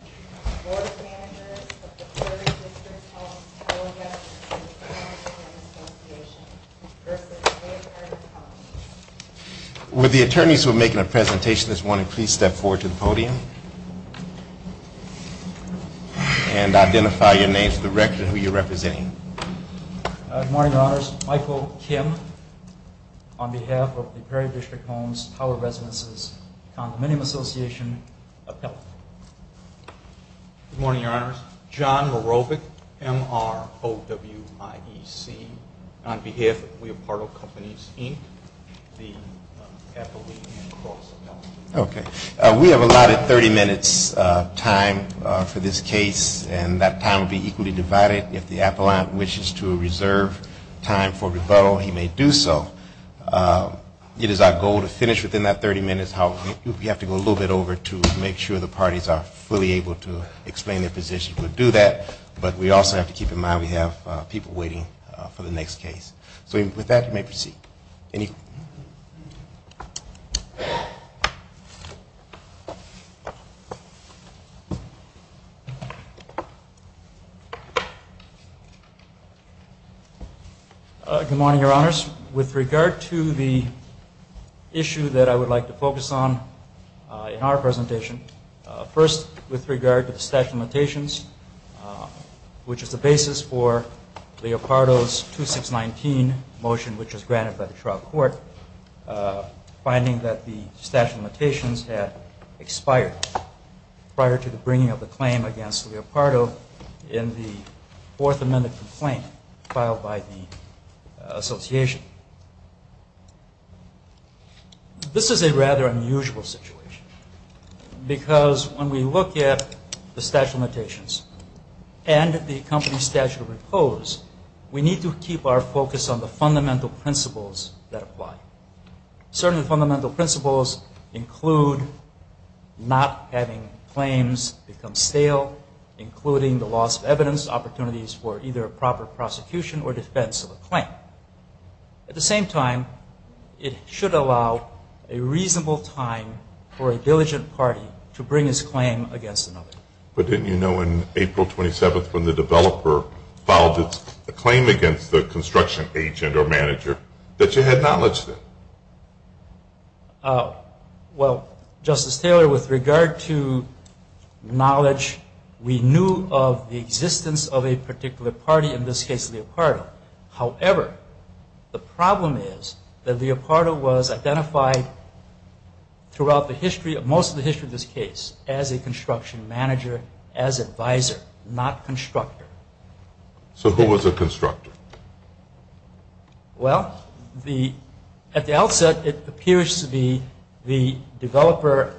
Board of Managers of the Prairie District Homes Tower Residences Condominium Association v. Leopardo Companies Would the attorneys who are making a presentation this morning please step forward to the podium and identify your names, the record, and who you're representing. Good morning, Your Honors. Michael Kim on behalf of the Prairie District Homes Tower Residences Condominium Association appellate. Good morning, Your Honors. John Marobic, M-R-O-W-I-E-C. On behalf of Leopardo Companies, Inc., the appellate and cross appellate. Okay. We have allotted 30 minutes time for this case, and that time will be equally divided. If the appellate wishes to reserve time for rebuttal, he may do so. It is our goal to finish within that 30 minutes. We have to go a little bit over to make sure the parties are fully able to explain their position. We'll do that, but we also have to keep in mind we have people waiting for the next case. So with that, you may proceed. Good morning, Your Honors. With regard to the issue that I would like to focus on in our presentation, first with regard to the statute of limitations, which is the basis for Leopardo's 2619 motion, which was granted by the trial court, finding that the statute of limitations had expired prior to the bringing of the claim against Leopardo in the Fourth Amendment complaint filed by the association. This is a rather unusual situation, because when we look at the statute of limitations and the company's statute of repose, we need to keep our focus on the fundamental principles that apply. Certain fundamental principles include not having claims become stale, including the loss of evidence, opportunities for either a proper prosecution or defense of a claim. At the same time, it should allow a reasonable time for a diligent party to bring its claim against another. But didn't you know on April 27th when the developer filed its claim against the construction agent or manager that you had knowledge then? Well, Justice Taylor, with regard to knowledge, we knew of the existence of a particular party, in this case Leopardo. However, the problem is that Leopardo was identified throughout the history, most of the history of this case, as a construction manager, as advisor, not constructor. So who was the constructor? Well, at the outset, it appears to be the developer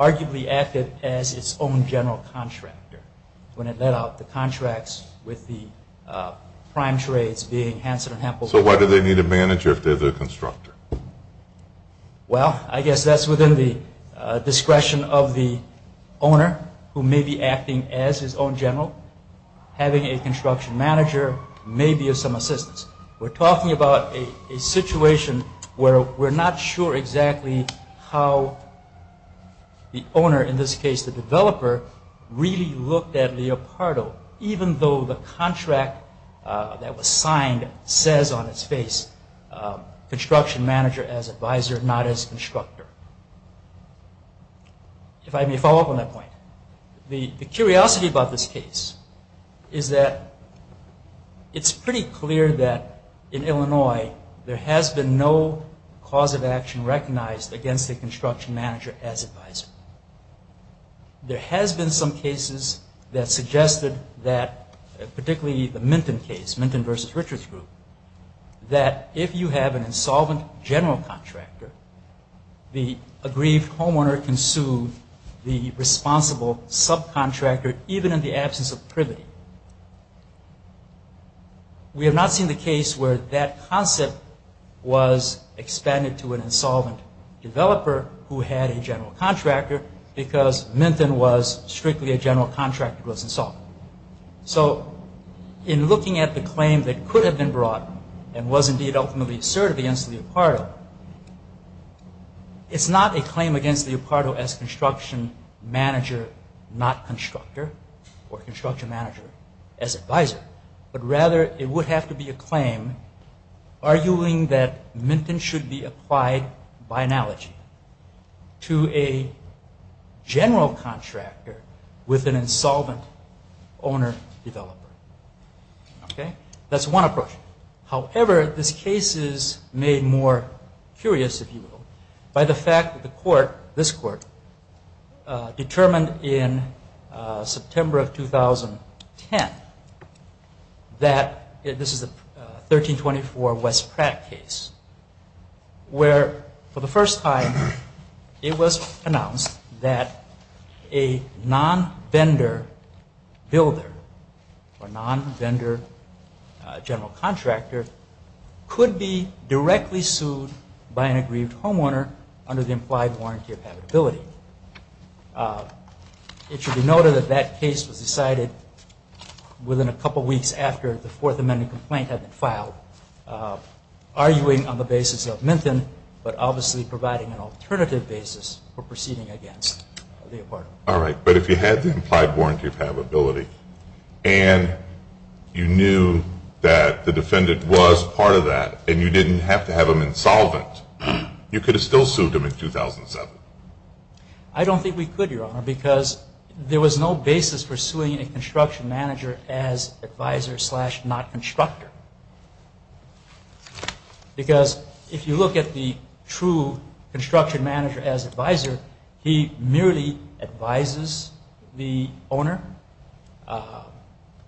arguably acted as its own general contractor when it let out the contracts with the prime trades being Hanson & Hampbell. So why do they need a manager if they're the constructor? Well, I guess that's within the discretion of the owner who may be acting as his own general. Having a construction manager may be of some assistance. We're talking about a situation where we're not sure exactly how the owner, in this case the developer, really looked at Leopardo, even though the contract that was signed says on its face construction manager as advisor, not as constructor. If I may follow up on that point, the curiosity about this case is that it's pretty clear that in Illinois there has been no cause of action recognized against the construction manager as advisor. There has been some cases that suggested that, particularly the Minton case, Minton v. Richards group, that if you have an insolvent general contractor, the aggrieved homeowner can sue the responsible subcontractor even in the absence of privity. We have not seen the case where that concept was expanded to an insolvent developer who had a general contractor who was insolvent. So in looking at the claim that could have been brought and was indeed ultimately asserted against Leopardo, it's not a claim against Leopardo as construction manager, not constructor, or construction manager as advisor, but rather it would have to be a claim arguing that Minton should be an insolvent owner developer. That's one approach. However, this case is made more curious, if you will, by the fact that the court, this court, determined in builder or non-vendor general contractor could be directly sued by an aggrieved homeowner under the implied warranty of habitability. It should be noted that that case was decided within a couple weeks after the Fourth Amendment complaint had been filed, arguing on the basis of Minton, but obviously providing an alternative basis for proceeding against Leopardo. All right, but if you had the implied warranty of habitability and you knew that the defendant was part of that and you didn't have to have him insolvent, you could have still sued him in 2007. I don't think we could, Your Honor, because there was no basis for suing a construction manager as advisor. He merely advises the owner,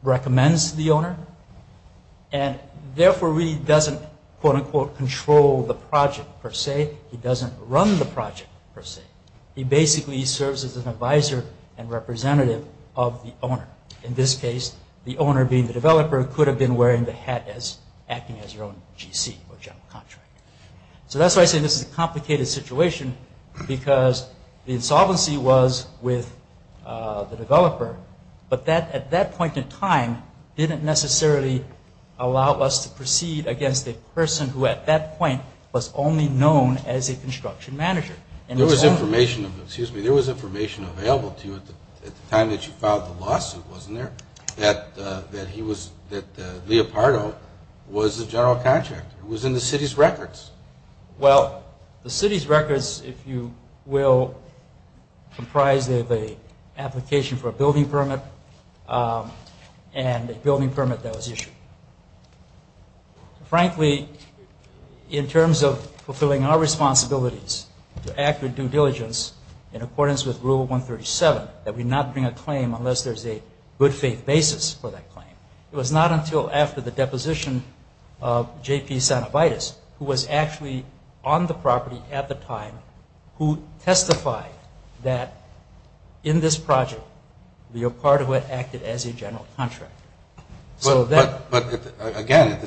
recommends the owner, and therefore he doesn't, quote unquote, control the project per se. He doesn't run the project per se. He basically serves as an advisor and representative of the owner. In this case, the owner being the developer could have been wearing the hat as acting as their own GC or general contractor. So that's why I say this is a complicated situation because the insolvency was with the developer, but at that point in time didn't necessarily allow us to proceed against a person who at that point was only known as a construction manager. There was information available to you at the time that you filed the lawsuit, wasn't there, that Leopardo was the general contractor. It was in the city's records. Well, the city's records, if you will, comprised of an application for a building permit and a building permit that was issued. Frankly, in terms of fulfilling our responsibilities to act with due diligence in accordance with Rule 137, that we not bring a claim unless there's a good faith basis for that claim. It was not until after the deposition of J.P. Sanovitis, who was actually on the property at the time, who testified that in this project, Leopardo had acted as a general contractor. But again,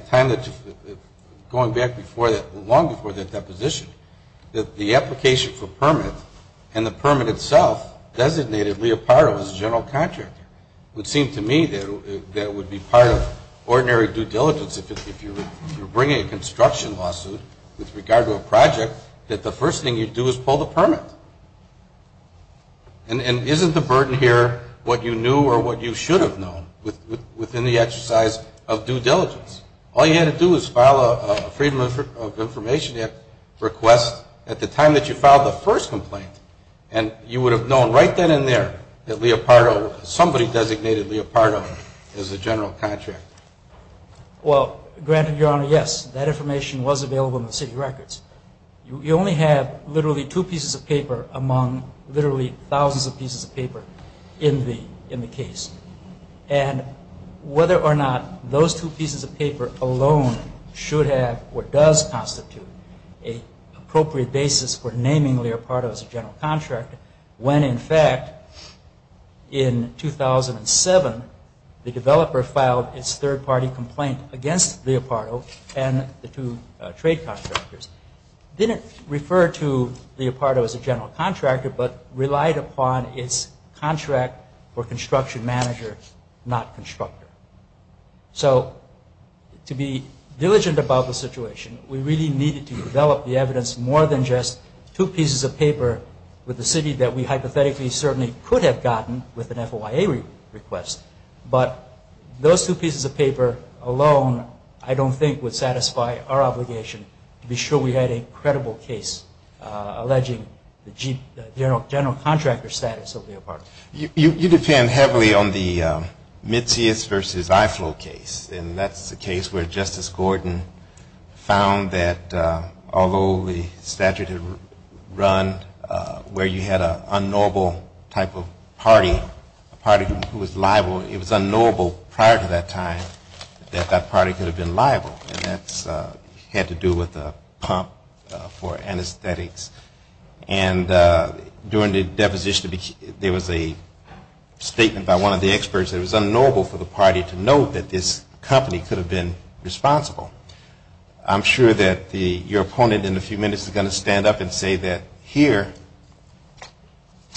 going back long before that deposition, the application for permit and the permit itself designated Leopardo as a general contractor would seem to me that would be part of ordinary due diligence if you're bringing a construction lawsuit with regard to a project, that the first thing you do is pull the permit. And isn't the burden here what you knew or what you should have known within the exercise of due diligence? All you had to do was file a Freedom of Information Act request at the time that you filed the first complaint, and you would have known right then and there that Leopardo, somebody designated Leopardo as a general contractor. Well, granted, Your Honor, yes, that information was available in the city records. You only have literally two pieces of paper among literally thousands of pieces of paper in the case. And whether or not those two pieces of paper alone should have or does constitute an appropriate basis for naming Leopardo as a general contractor, when in fact, in 2007, the developer filed its third-party complaint against Leopardo and the two trade contractors, didn't refer to Leopardo as a general contractor, but relied upon its contract for construction manager, not constructor. So to be diligent about the situation, we really needed to develop the evidence more than just two pieces of paper with the city that we hypothetically certainly could have gotten with an FOIA request. But those two pieces of paper alone, I don't think would satisfy our obligation to be sure we had a credible case alleging the general contractor status of Leopardo. You depend heavily on the Mitzias v. Iflow case, and that's the case where Justice Gordon found that although the statute had run where you had an unknowable type of party, a party who was liable, it was unknowable prior to that time that that party could have been liable. And that had to do with a pump for anesthetics. And during the deposition, there was a statement by one of the experts that it was unknowable for the party to know that this company could have been responsible. I'm sure that your opponent in a few minutes is going to stand up and say that here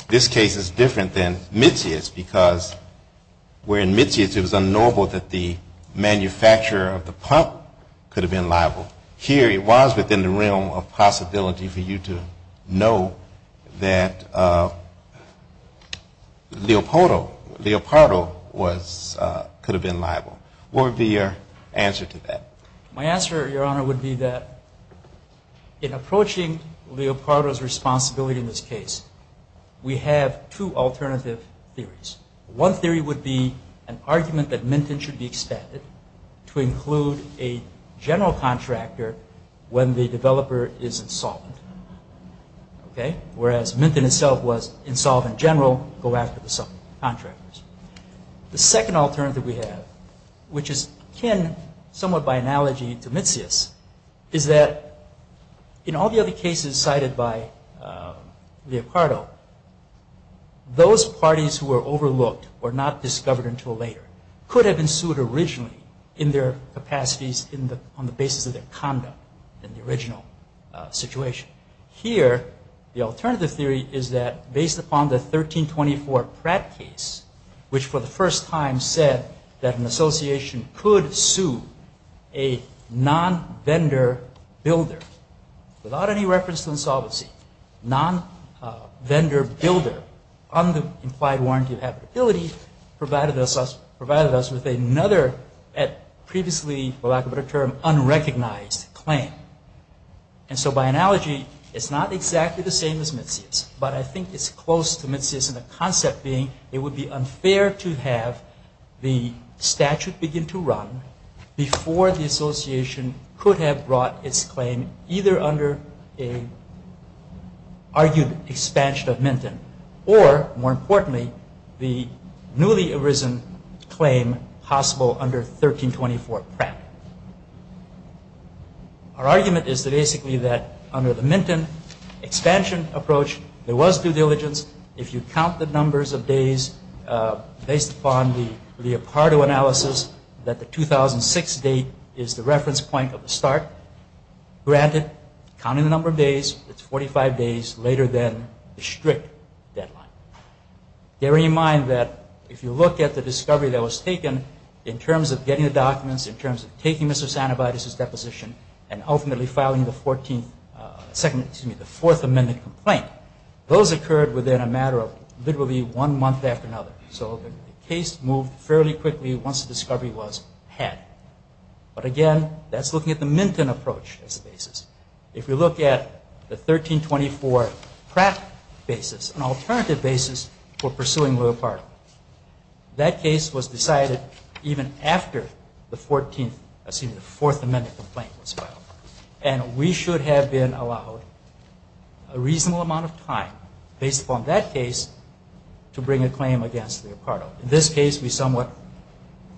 this case is different than Mitzias because where in Mitzias it was unknowable that the manufacturer of the pump could have been liable. Here it was within the realm of possibility for you to know that Leopardo could have been My answer, Your Honor, would be that in approaching Leopardo's responsibility in this case, we have two alternative theories. One theory would be an argument that Minton should be expanded to include a general contractor when the developer is insolvent. Okay? Whereas Minton itself was insolvent The second alternative we have, which is kin somewhat by analogy to Mitzias, is that in all the other cases cited by Leopardo, those parties who were overlooked or not discovered until later could have been sued originally in their capacities on the basis of their conduct in the original situation. Here the alternative theory is that based upon the 1324 Pratt case, which for the first time said that an association could sue a non-vendor builder without any reference to insolvency, non-vendor builder on the implied warranty of habitability provided us with another at previously for lack of a better term, unrecognized claim. And so by analogy, it's not exactly the same as Mitzias, but I think it's close to Mitzias in the concept being it would be unfair to have the statute begin to run before the association could have brought its claim either under an argued expansion of Minton or more Our argument is basically that under the Minton expansion approach, there was due diligence if you count the numbers of days based upon the Leopardo analysis that the 2006 date is the reference point of the start. Granted, counting the number of days, it's 45 days later than the strict deadline. Bearing in mind that if you look at the discovery that was taken in terms of getting the documents, in terms of taking Mr. Sanobides' deposition and ultimately filing the fourth amended complaint, those occurred within a matter of literally one month after another. So the case moved fairly quickly once the discovery was had. But again, that's looking at the Minton approach as a basis. If you look at the 1324 Pratt basis, an alternative basis for pursuing Leopardo, that case was decided even after the 14th, I assume the fourth amended complaint was filed. And we should have been allowed a reasonable amount of time based upon that case to bring a claim against Leopardo. In this case, we somewhat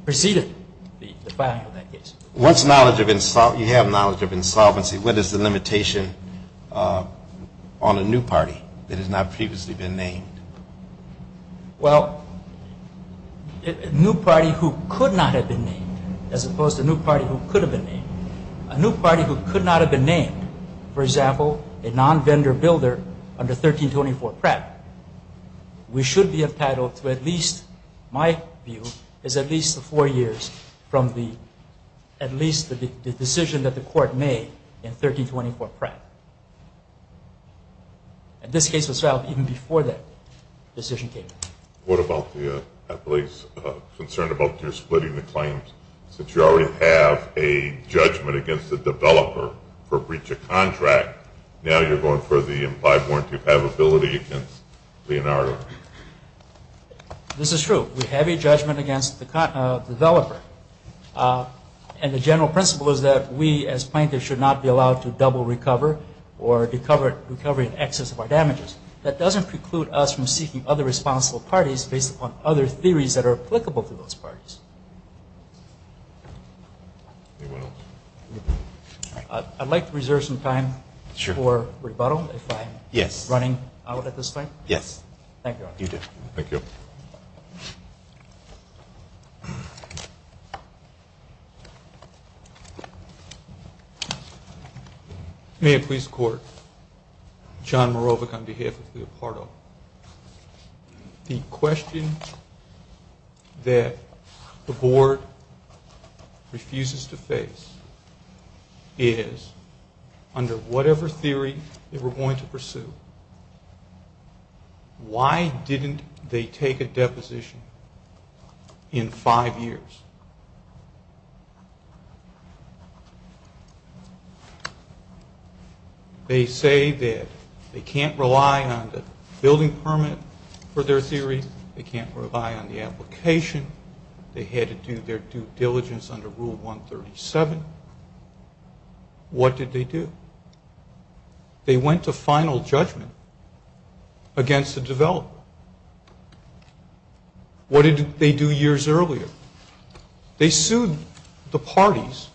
preceded the filing of that case. Once you have knowledge of insolvency, what is the limitation on a new party that has not previously been named? Well, a new party who could not have been named as opposed to a new party who could have been named. A new party who could not have been named, for example, a non-vendor builder under 1324 Pratt. We should be entitled to at least, my view, is at least four years from at least the decision that the court made in 1324 Pratt. And this case was filed even before that decision came. What about the, I believe, concern about your splitting the claims? Since you already have a judgment against the developer for breach of contract, now you're going for the implied warranty of havability against Leonardo. This is true. We have a judgment against the developer. And the general principle is that we as plaintiffs should not be allowed to double recover or recover in excess of our damages. That doesn't preclude us from seeking other responsible parties based upon other theories that are applicable to those parties. I'd like to reserve some time for rebuttal if I'm running out at this point. Yes. Thank you. May it please the Court. John Marovic on behalf of Leopardo. The question that the Board refuses to face is, under whatever theory that we're going to pursue, why didn't they take a deposition in five years? They say that they can't rely on the building permit for their theory. They can't rely on the application. They had to do their due diligence under Rule 137. What did they do? They went to final judgment against the developer. What did they do years earlier? They sued the parties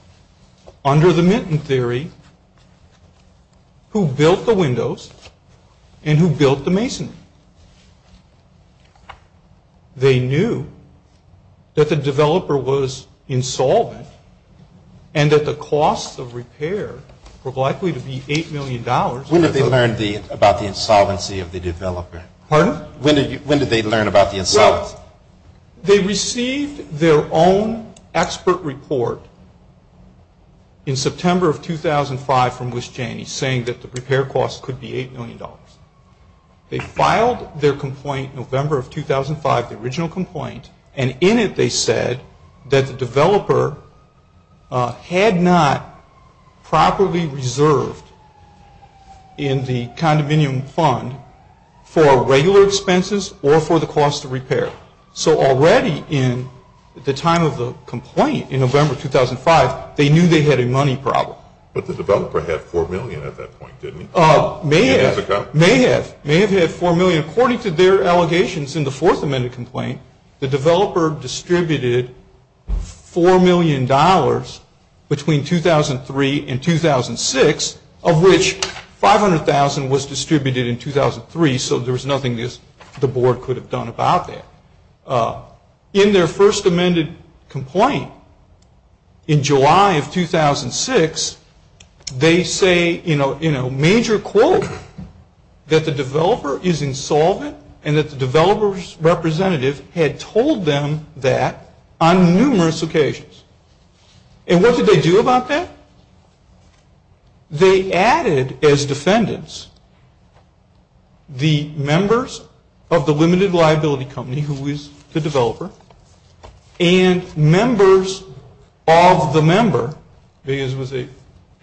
under the Minton theory who built the windows and who built the masonry. They knew that the developer was insolvent and that the costs of repair were likely to be $8 million. When did they learn about the insolvency of the developer? Pardon? When did they learn about the insolvency? Well, they received their own expert report in September of 2005 from Lis Janney saying that the repair costs could be $8 million. They filed their complaint November of 2005, the original complaint, and in it they said that the developer had not properly reserved in the expenses or for the cost of repair. So already in the time of the complaint in November 2005, they knew they had a money problem. But the developer had $4 million at that point, didn't he? May have. May have. May have had $4 million. According to their allegations in the Fourth Amendment complaint, the developer distributed $4 million between 2003 and 2006, of which $500,000 was distributed in 2003, so there was nothing the board could have done about that. In their First Amendment complaint in July of 2006, they say in a major quote that the developer is insolvent and that the developer's occasions. And what did they do about that? They added as defendants the members of the Limited Liability Company, who is the developer, and members of the member, because it was an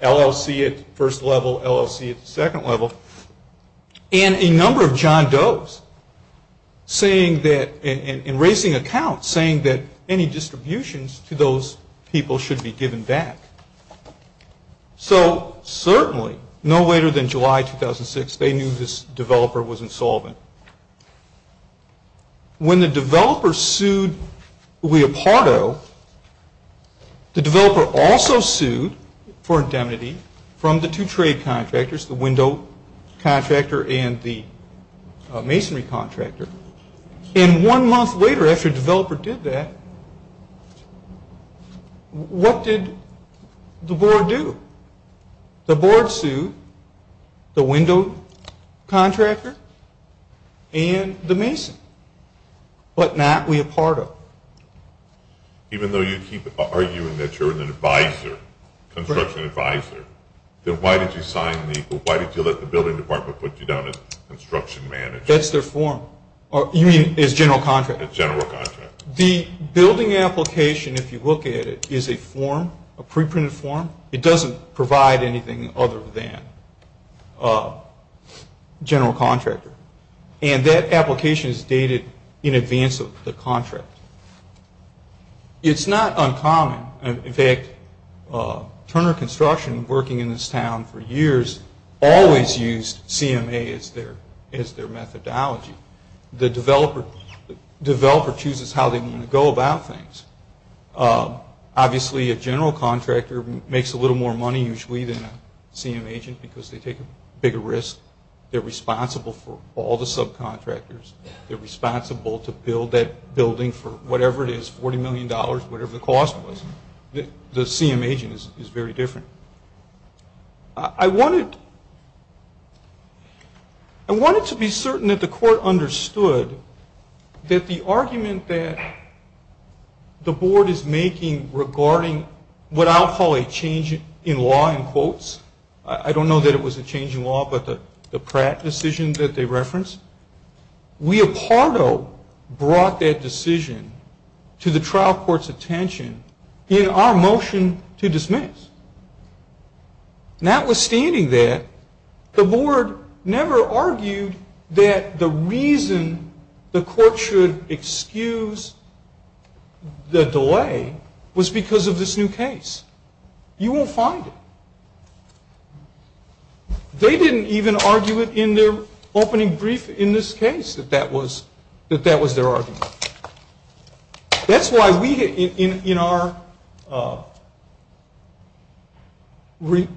LLC at the first level, LLC at the second level, and a number of John Doe's saying that, and raising accounts saying that any distributions to those people should be given back. So certainly no later than July 2006, they knew this developer was insolvent. When the developer sued Leopardo, the developer also sued for indemnity from the two trade contractors, the window contractor and the masonry contractor. And one month later after the developer did that, what did the board do? The board sued the window contractor and the mason, but not Leopardo. Even though you keep arguing that you're an advisor, construction advisor, then why did you let the building department put you down as construction manager? That's their form. You mean as general contractor? As general contractor. The building application, if you look at it, is a form, a pre-printed form. It doesn't provide anything other than general contractor. And that application is dated in advance of the contract. It's not uncommon. In fact, Turner Construction, working in this town for years, always used CMA as their methodology. The developer chooses how they want to go about things. Obviously a general contractor makes a little more money usually than a CMA agent because they take a bigger risk. They're responsible for all the subcontractors. They're responsible to build that building for whatever it is, $40 million, whatever the cost was. The CMA agent is very different. I wanted to be certain that the court understood that the argument that the board is making regarding what I'll call a change in law in quotes, I don't know that it was a change in law, but the Pratt decision that they referenced, we a part of brought that decision to the trial court's attention in our motion to dismiss. Notwithstanding that, the board never argued that the reason the court should excuse the delay was because of this new case. You won't find it. They didn't even argue it in their opening brief in this case that that was their argument. That's why we, in our response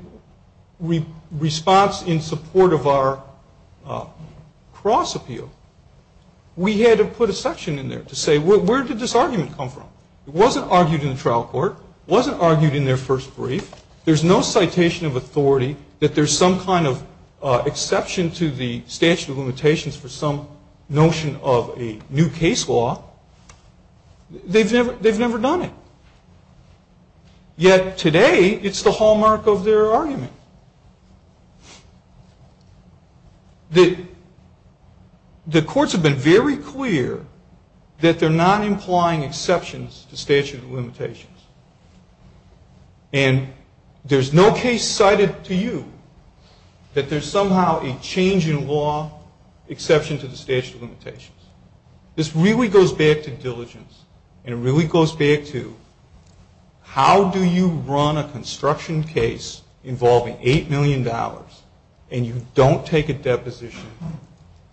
in support of our cross appeal, we had to put a section in there to say where did this argument come from. It wasn't argued in the trial court. It wasn't argued in their first brief. There's no citation of authority that there's some kind of exception to the statute of limitations for some notion of a new case law. They've never done it. Yet today, it's the hallmark of their argument. The courts have been very clear that they're not implying exceptions to statute of limitations. And there's no case cited to you that there's somehow a change in law exception to the statute of limitations. This really goes back to diligence. And it really goes back to how do you run a construction case involving $8 million and you don't take a deposition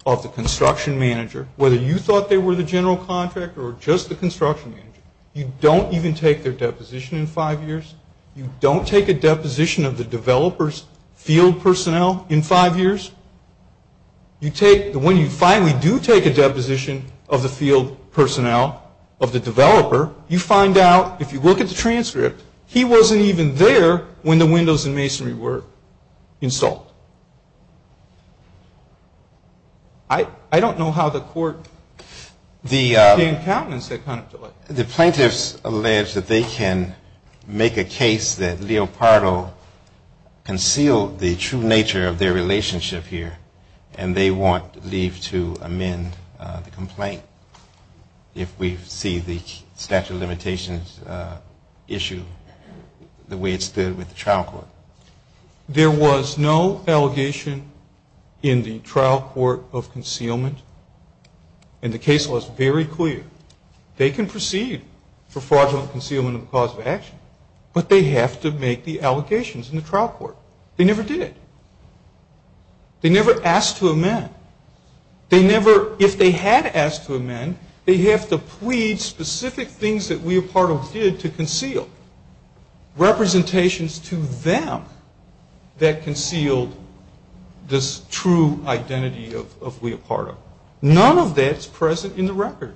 of the construction manager, whether you thought they were the general contractor or just the construction manager. You don't even take their deposition in five years. You don't take a deposition of the developer's field personnel in five years. When you finally do take a deposition of the field personnel, of the developer, you find out, if you look at the transcript, he wasn't even there when the windows and masonry were installed. I don't know how the court can countenance that kind of delay. The plaintiffs allege that they can make a case that Leopardo concealed the true nature of their relationship here, and they want leave to amend the complaint if we see the statute of limitations issue the way it stood with the trial court. There was no allegation in the trial court of concealment. And the case was very clear. They can proceed for fraudulent concealment of the cause of action, but they have to make the allegations in the trial court. They never did. They never asked to amend. They never, if they had asked to amend, they have to plead specific things that Leopardo did to conceal, representations to them that concealed this true identity of Leopardo. None of that is present in the record.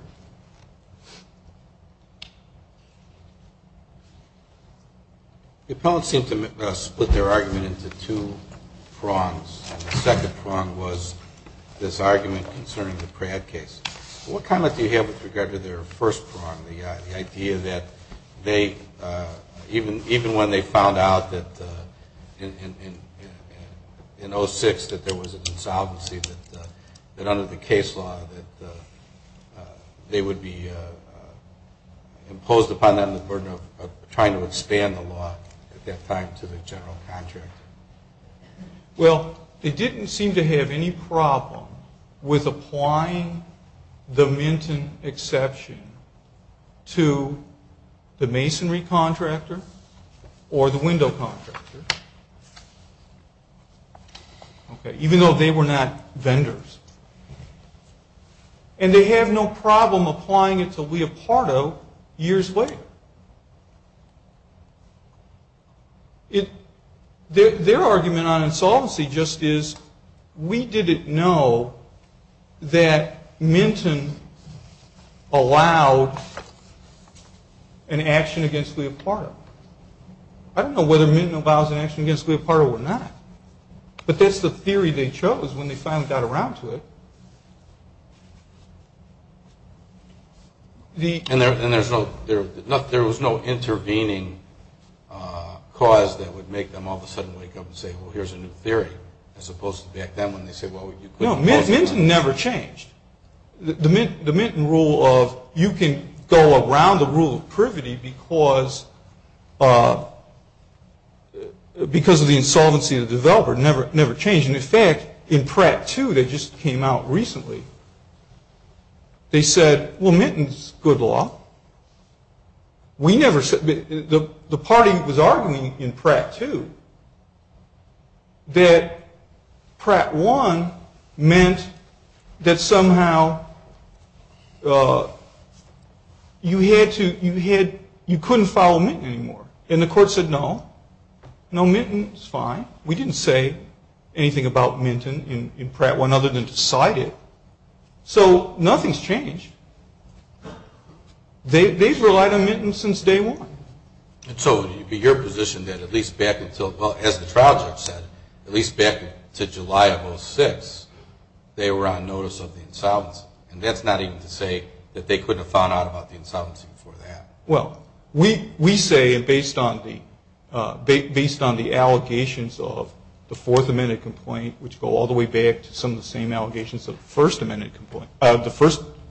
The appellants seem to split their argument into two prongs. The second prong was this argument concerning the Pratt case. What comment do you have with regard to their first prong, the idea that even when they found out in 06 that there was an insolvency, that under the case law that they would be imposed upon them the burden of trying to expand the law at that time to the general contractor? Well, they didn't seem to have any problem with applying the Minton exception to the masonry contractor or the window contractor. Even though they were not vendors. And they have no problem applying it to Leopardo years later. Their argument on insolvency just is we didn't know that Minton allowed an action against Leopardo. I don't know whether Minton allows an action against Leopardo or not. But that's the theory they chose when they finally got around to it. And there was no intervening cause that would make them all of a sudden wake up and say, well, here's a new theory. As opposed to back then when they said, well, you put... No, Minton never changed. The Minton rule of you can go around the rule of privity because of the insolvency of the developer never changed. And in fact, in Pratt 2 that just came out recently, they said, well, Minton's good law. The party was arguing in Pratt 2 that Pratt 1 meant that somehow you couldn't follow Minton anymore. And the court said, no. No, Minton's fine. We didn't say anything about Minton in Pratt 1 other than to cite it. So nothing's changed. They've relied on Minton since day one. So would it be your position that at least back until, well, as the trial judge said, at least back to July of 2006, they were on notice of the insolvency. And that's not even to say that they couldn't have found out about the insolvency before that. Well, we say, based on the allegations of the Fourth Amendment complaint, which go all the way back to some of the same allegations of the first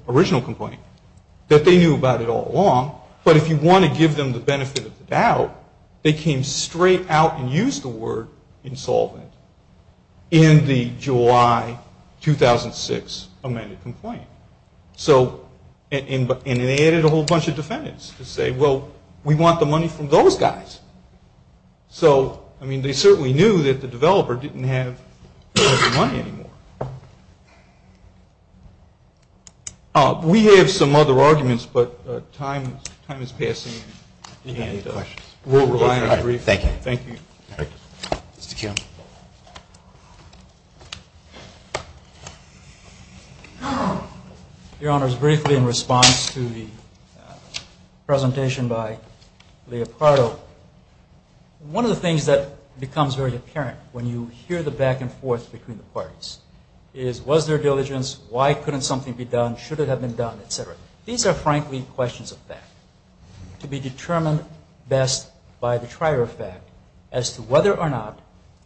original complaint, that they knew about it all along. But if you want to give them the benefit of the doubt, they came straight out and used the word insolvent in the July 2006 amended complaint. And they added a whole bunch of defendants to say, well, we want the money from those guys. So, I mean, they certainly knew that the developer didn't have the money anymore. We have some other arguments, but time is passing, and we'll rely on it briefly. Thank you. Thank you. Mr. Kuhn. Your Honors, briefly in response to the presentation by Leopardo, one of the things that becomes very apparent when you hear the back and forth between the parties is was there diligence, why couldn't something be done, should it have been done, et cetera. These are, frankly, questions of fact, to be determined best by the trier of fact as to whether or not,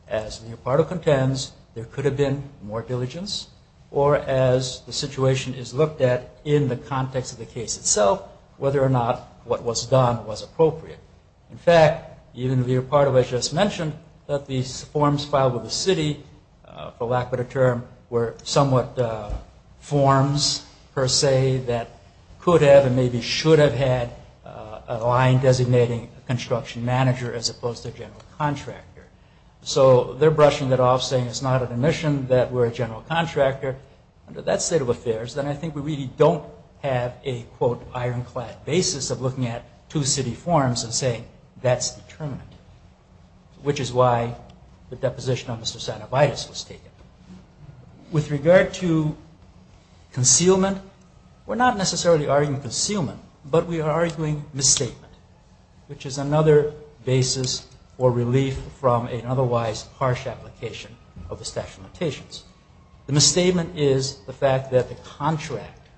as Leopardo contends, there could have been more diligence, or as the situation is looked at in the context of the case itself, whether or not what was done was appropriate. In fact, even Leopardo has just mentioned that these forms filed with the city, for lack of a better term, were somewhat forms, per se, that could have and maybe should have had a line designating a construction manager as opposed to a general contractor. So they're brushing that off, saying it's not an admission that we're a general contractor. Under that state of affairs, then I think we really don't have a, quote, ironclad basis of looking at two city forms and saying that's determined, which is why the deposition on Mr. Sanovitis was taken. With regard to concealment, we're not necessarily arguing concealment, but we are arguing misstatement, which is another basis for relief from an otherwise harsh application of the statute of limitations. The misstatement is the fact that the contract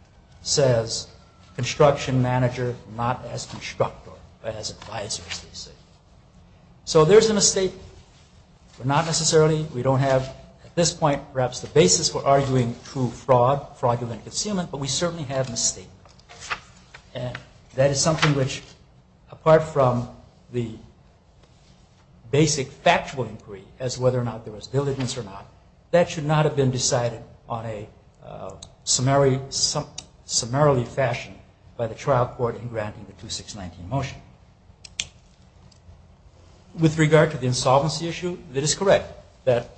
says construction manager, not as constructor, but as advisor, as they say. So there's a mistake. Not necessarily, we don't have, at this point, perhaps the basis for arguing true fraud, fraudulent concealment, but we certainly have misstatement. And that is something which, apart from the basic factual inquiry as whether or not there was diligence or not, that should not have been decided on a summarily fashion by the trial court in granting the 2619 motion. With regard to the insolvency issue, it is correct that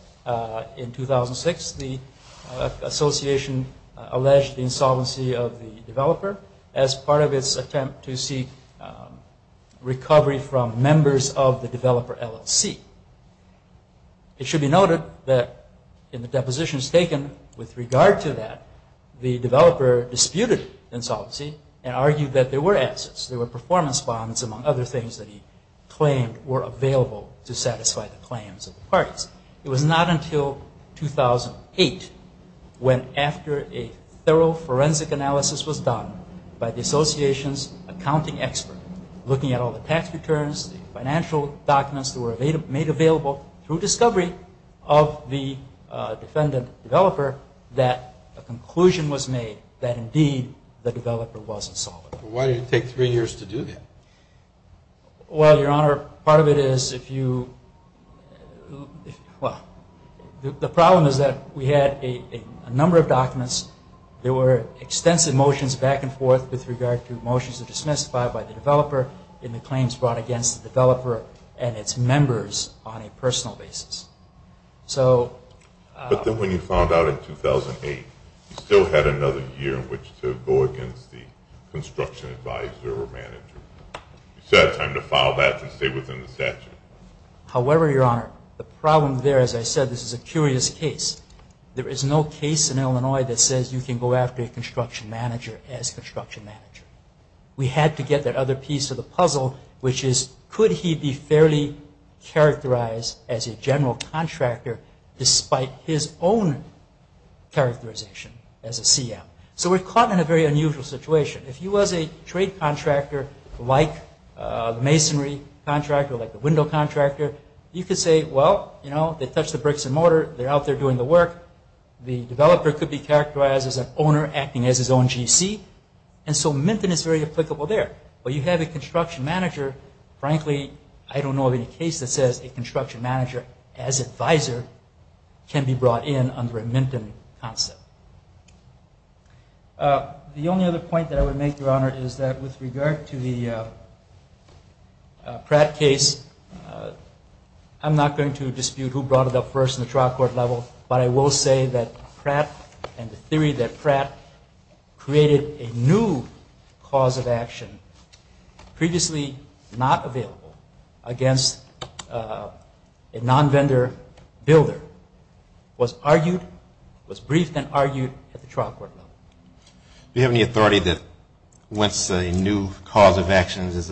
in 2006 the association alleged the insolvency of the developer as part of its attempt to see recovery from members of the developer LLC. It should be noted that in the depositions taken with regard to that, the developer disputed insolvency and argued that there were assets, there were performance bonds, among other things that he claimed were available to satisfy the claims of the parties. It was not until 2008, when after a thorough forensic analysis was done by the association's accounting expert, looking at all the tax returns, the financial documents that were made available through discovery of the defendant developer, that a conclusion was made that, indeed, the developer was insolvent. Why did it take three years to do that? Well, Your Honor, part of it is if you, well, the problem is that we had a number of documents. There were extensive motions back and forth with regard to motions that were dismissed by the developer in the claims brought against the developer and its members on a personal basis. But then when you found out in 2008, you still had another year in which to go against the construction advisor or manager. You still had time to file that to stay within the statute. However, Your Honor, the problem there, as I said, this is a curious case. There is no case in Illinois that says you can go after a construction manager as construction manager. We had to get that other piece of the puzzle, which is, could he be fairly characterized as a general contractor despite his own characterization as a CF? So we're caught in a very unusual situation. If he was a trade contractor like the masonry contractor, like the window contractor, you could say, well, you know, they touch the bricks and mortar. They're out there doing the work. The developer could be characterized as an owner acting as his own GC. And so Minton is very applicable there. But you have a construction manager. Frankly, I don't know of any case that says a construction manager as advisor can be brought in under a Minton concept. The only other point that I would make, Your Honor, is that with regard to the Pratt case, I'm not going to dispute who brought it up first in the trial court level, but I will say that Pratt and the theory that Pratt created a new cause of actions is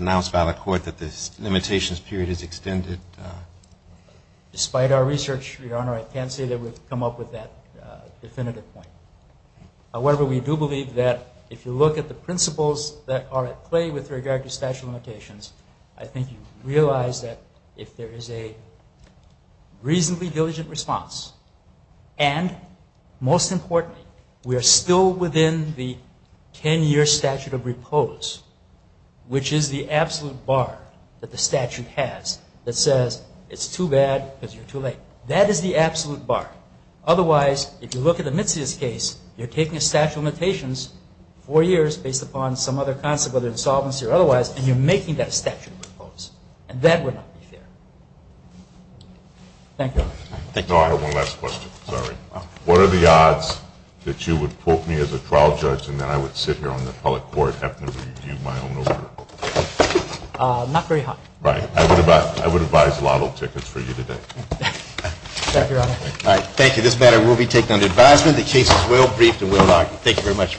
announced by the court that the limitations period is extended. Despite our research, Your Honor, I can't say that we've come up with that definitive point. However, we do believe that if you look at the principles that are at play with regard to statute of limitations, I think you realize that if there is a reasonably diligent response, and most importantly, we are still within the 10-year statute of repose, which is the absolute bar that the statute has that says it's too bad because you're too late. That is the absolute bar. Otherwise, if you look at the Mitsias case, you're taking a statute of limitations four years based upon some other concept, whether insolvency or otherwise, and you're making that a statute of repose. And that would not be fair. Thank you. Thank you, Your Honor. I have one last question. Sorry. What are the odds that you would quote me as a trial judge and that I would sit here on the appellate court having to review my own offer? Not very high. Right. I would advise lotto tickets for you today. Thank you, Your Honor. All right. Thank you. This matter will be taken under advisement. The case is well briefed and well documented. Thank you very much.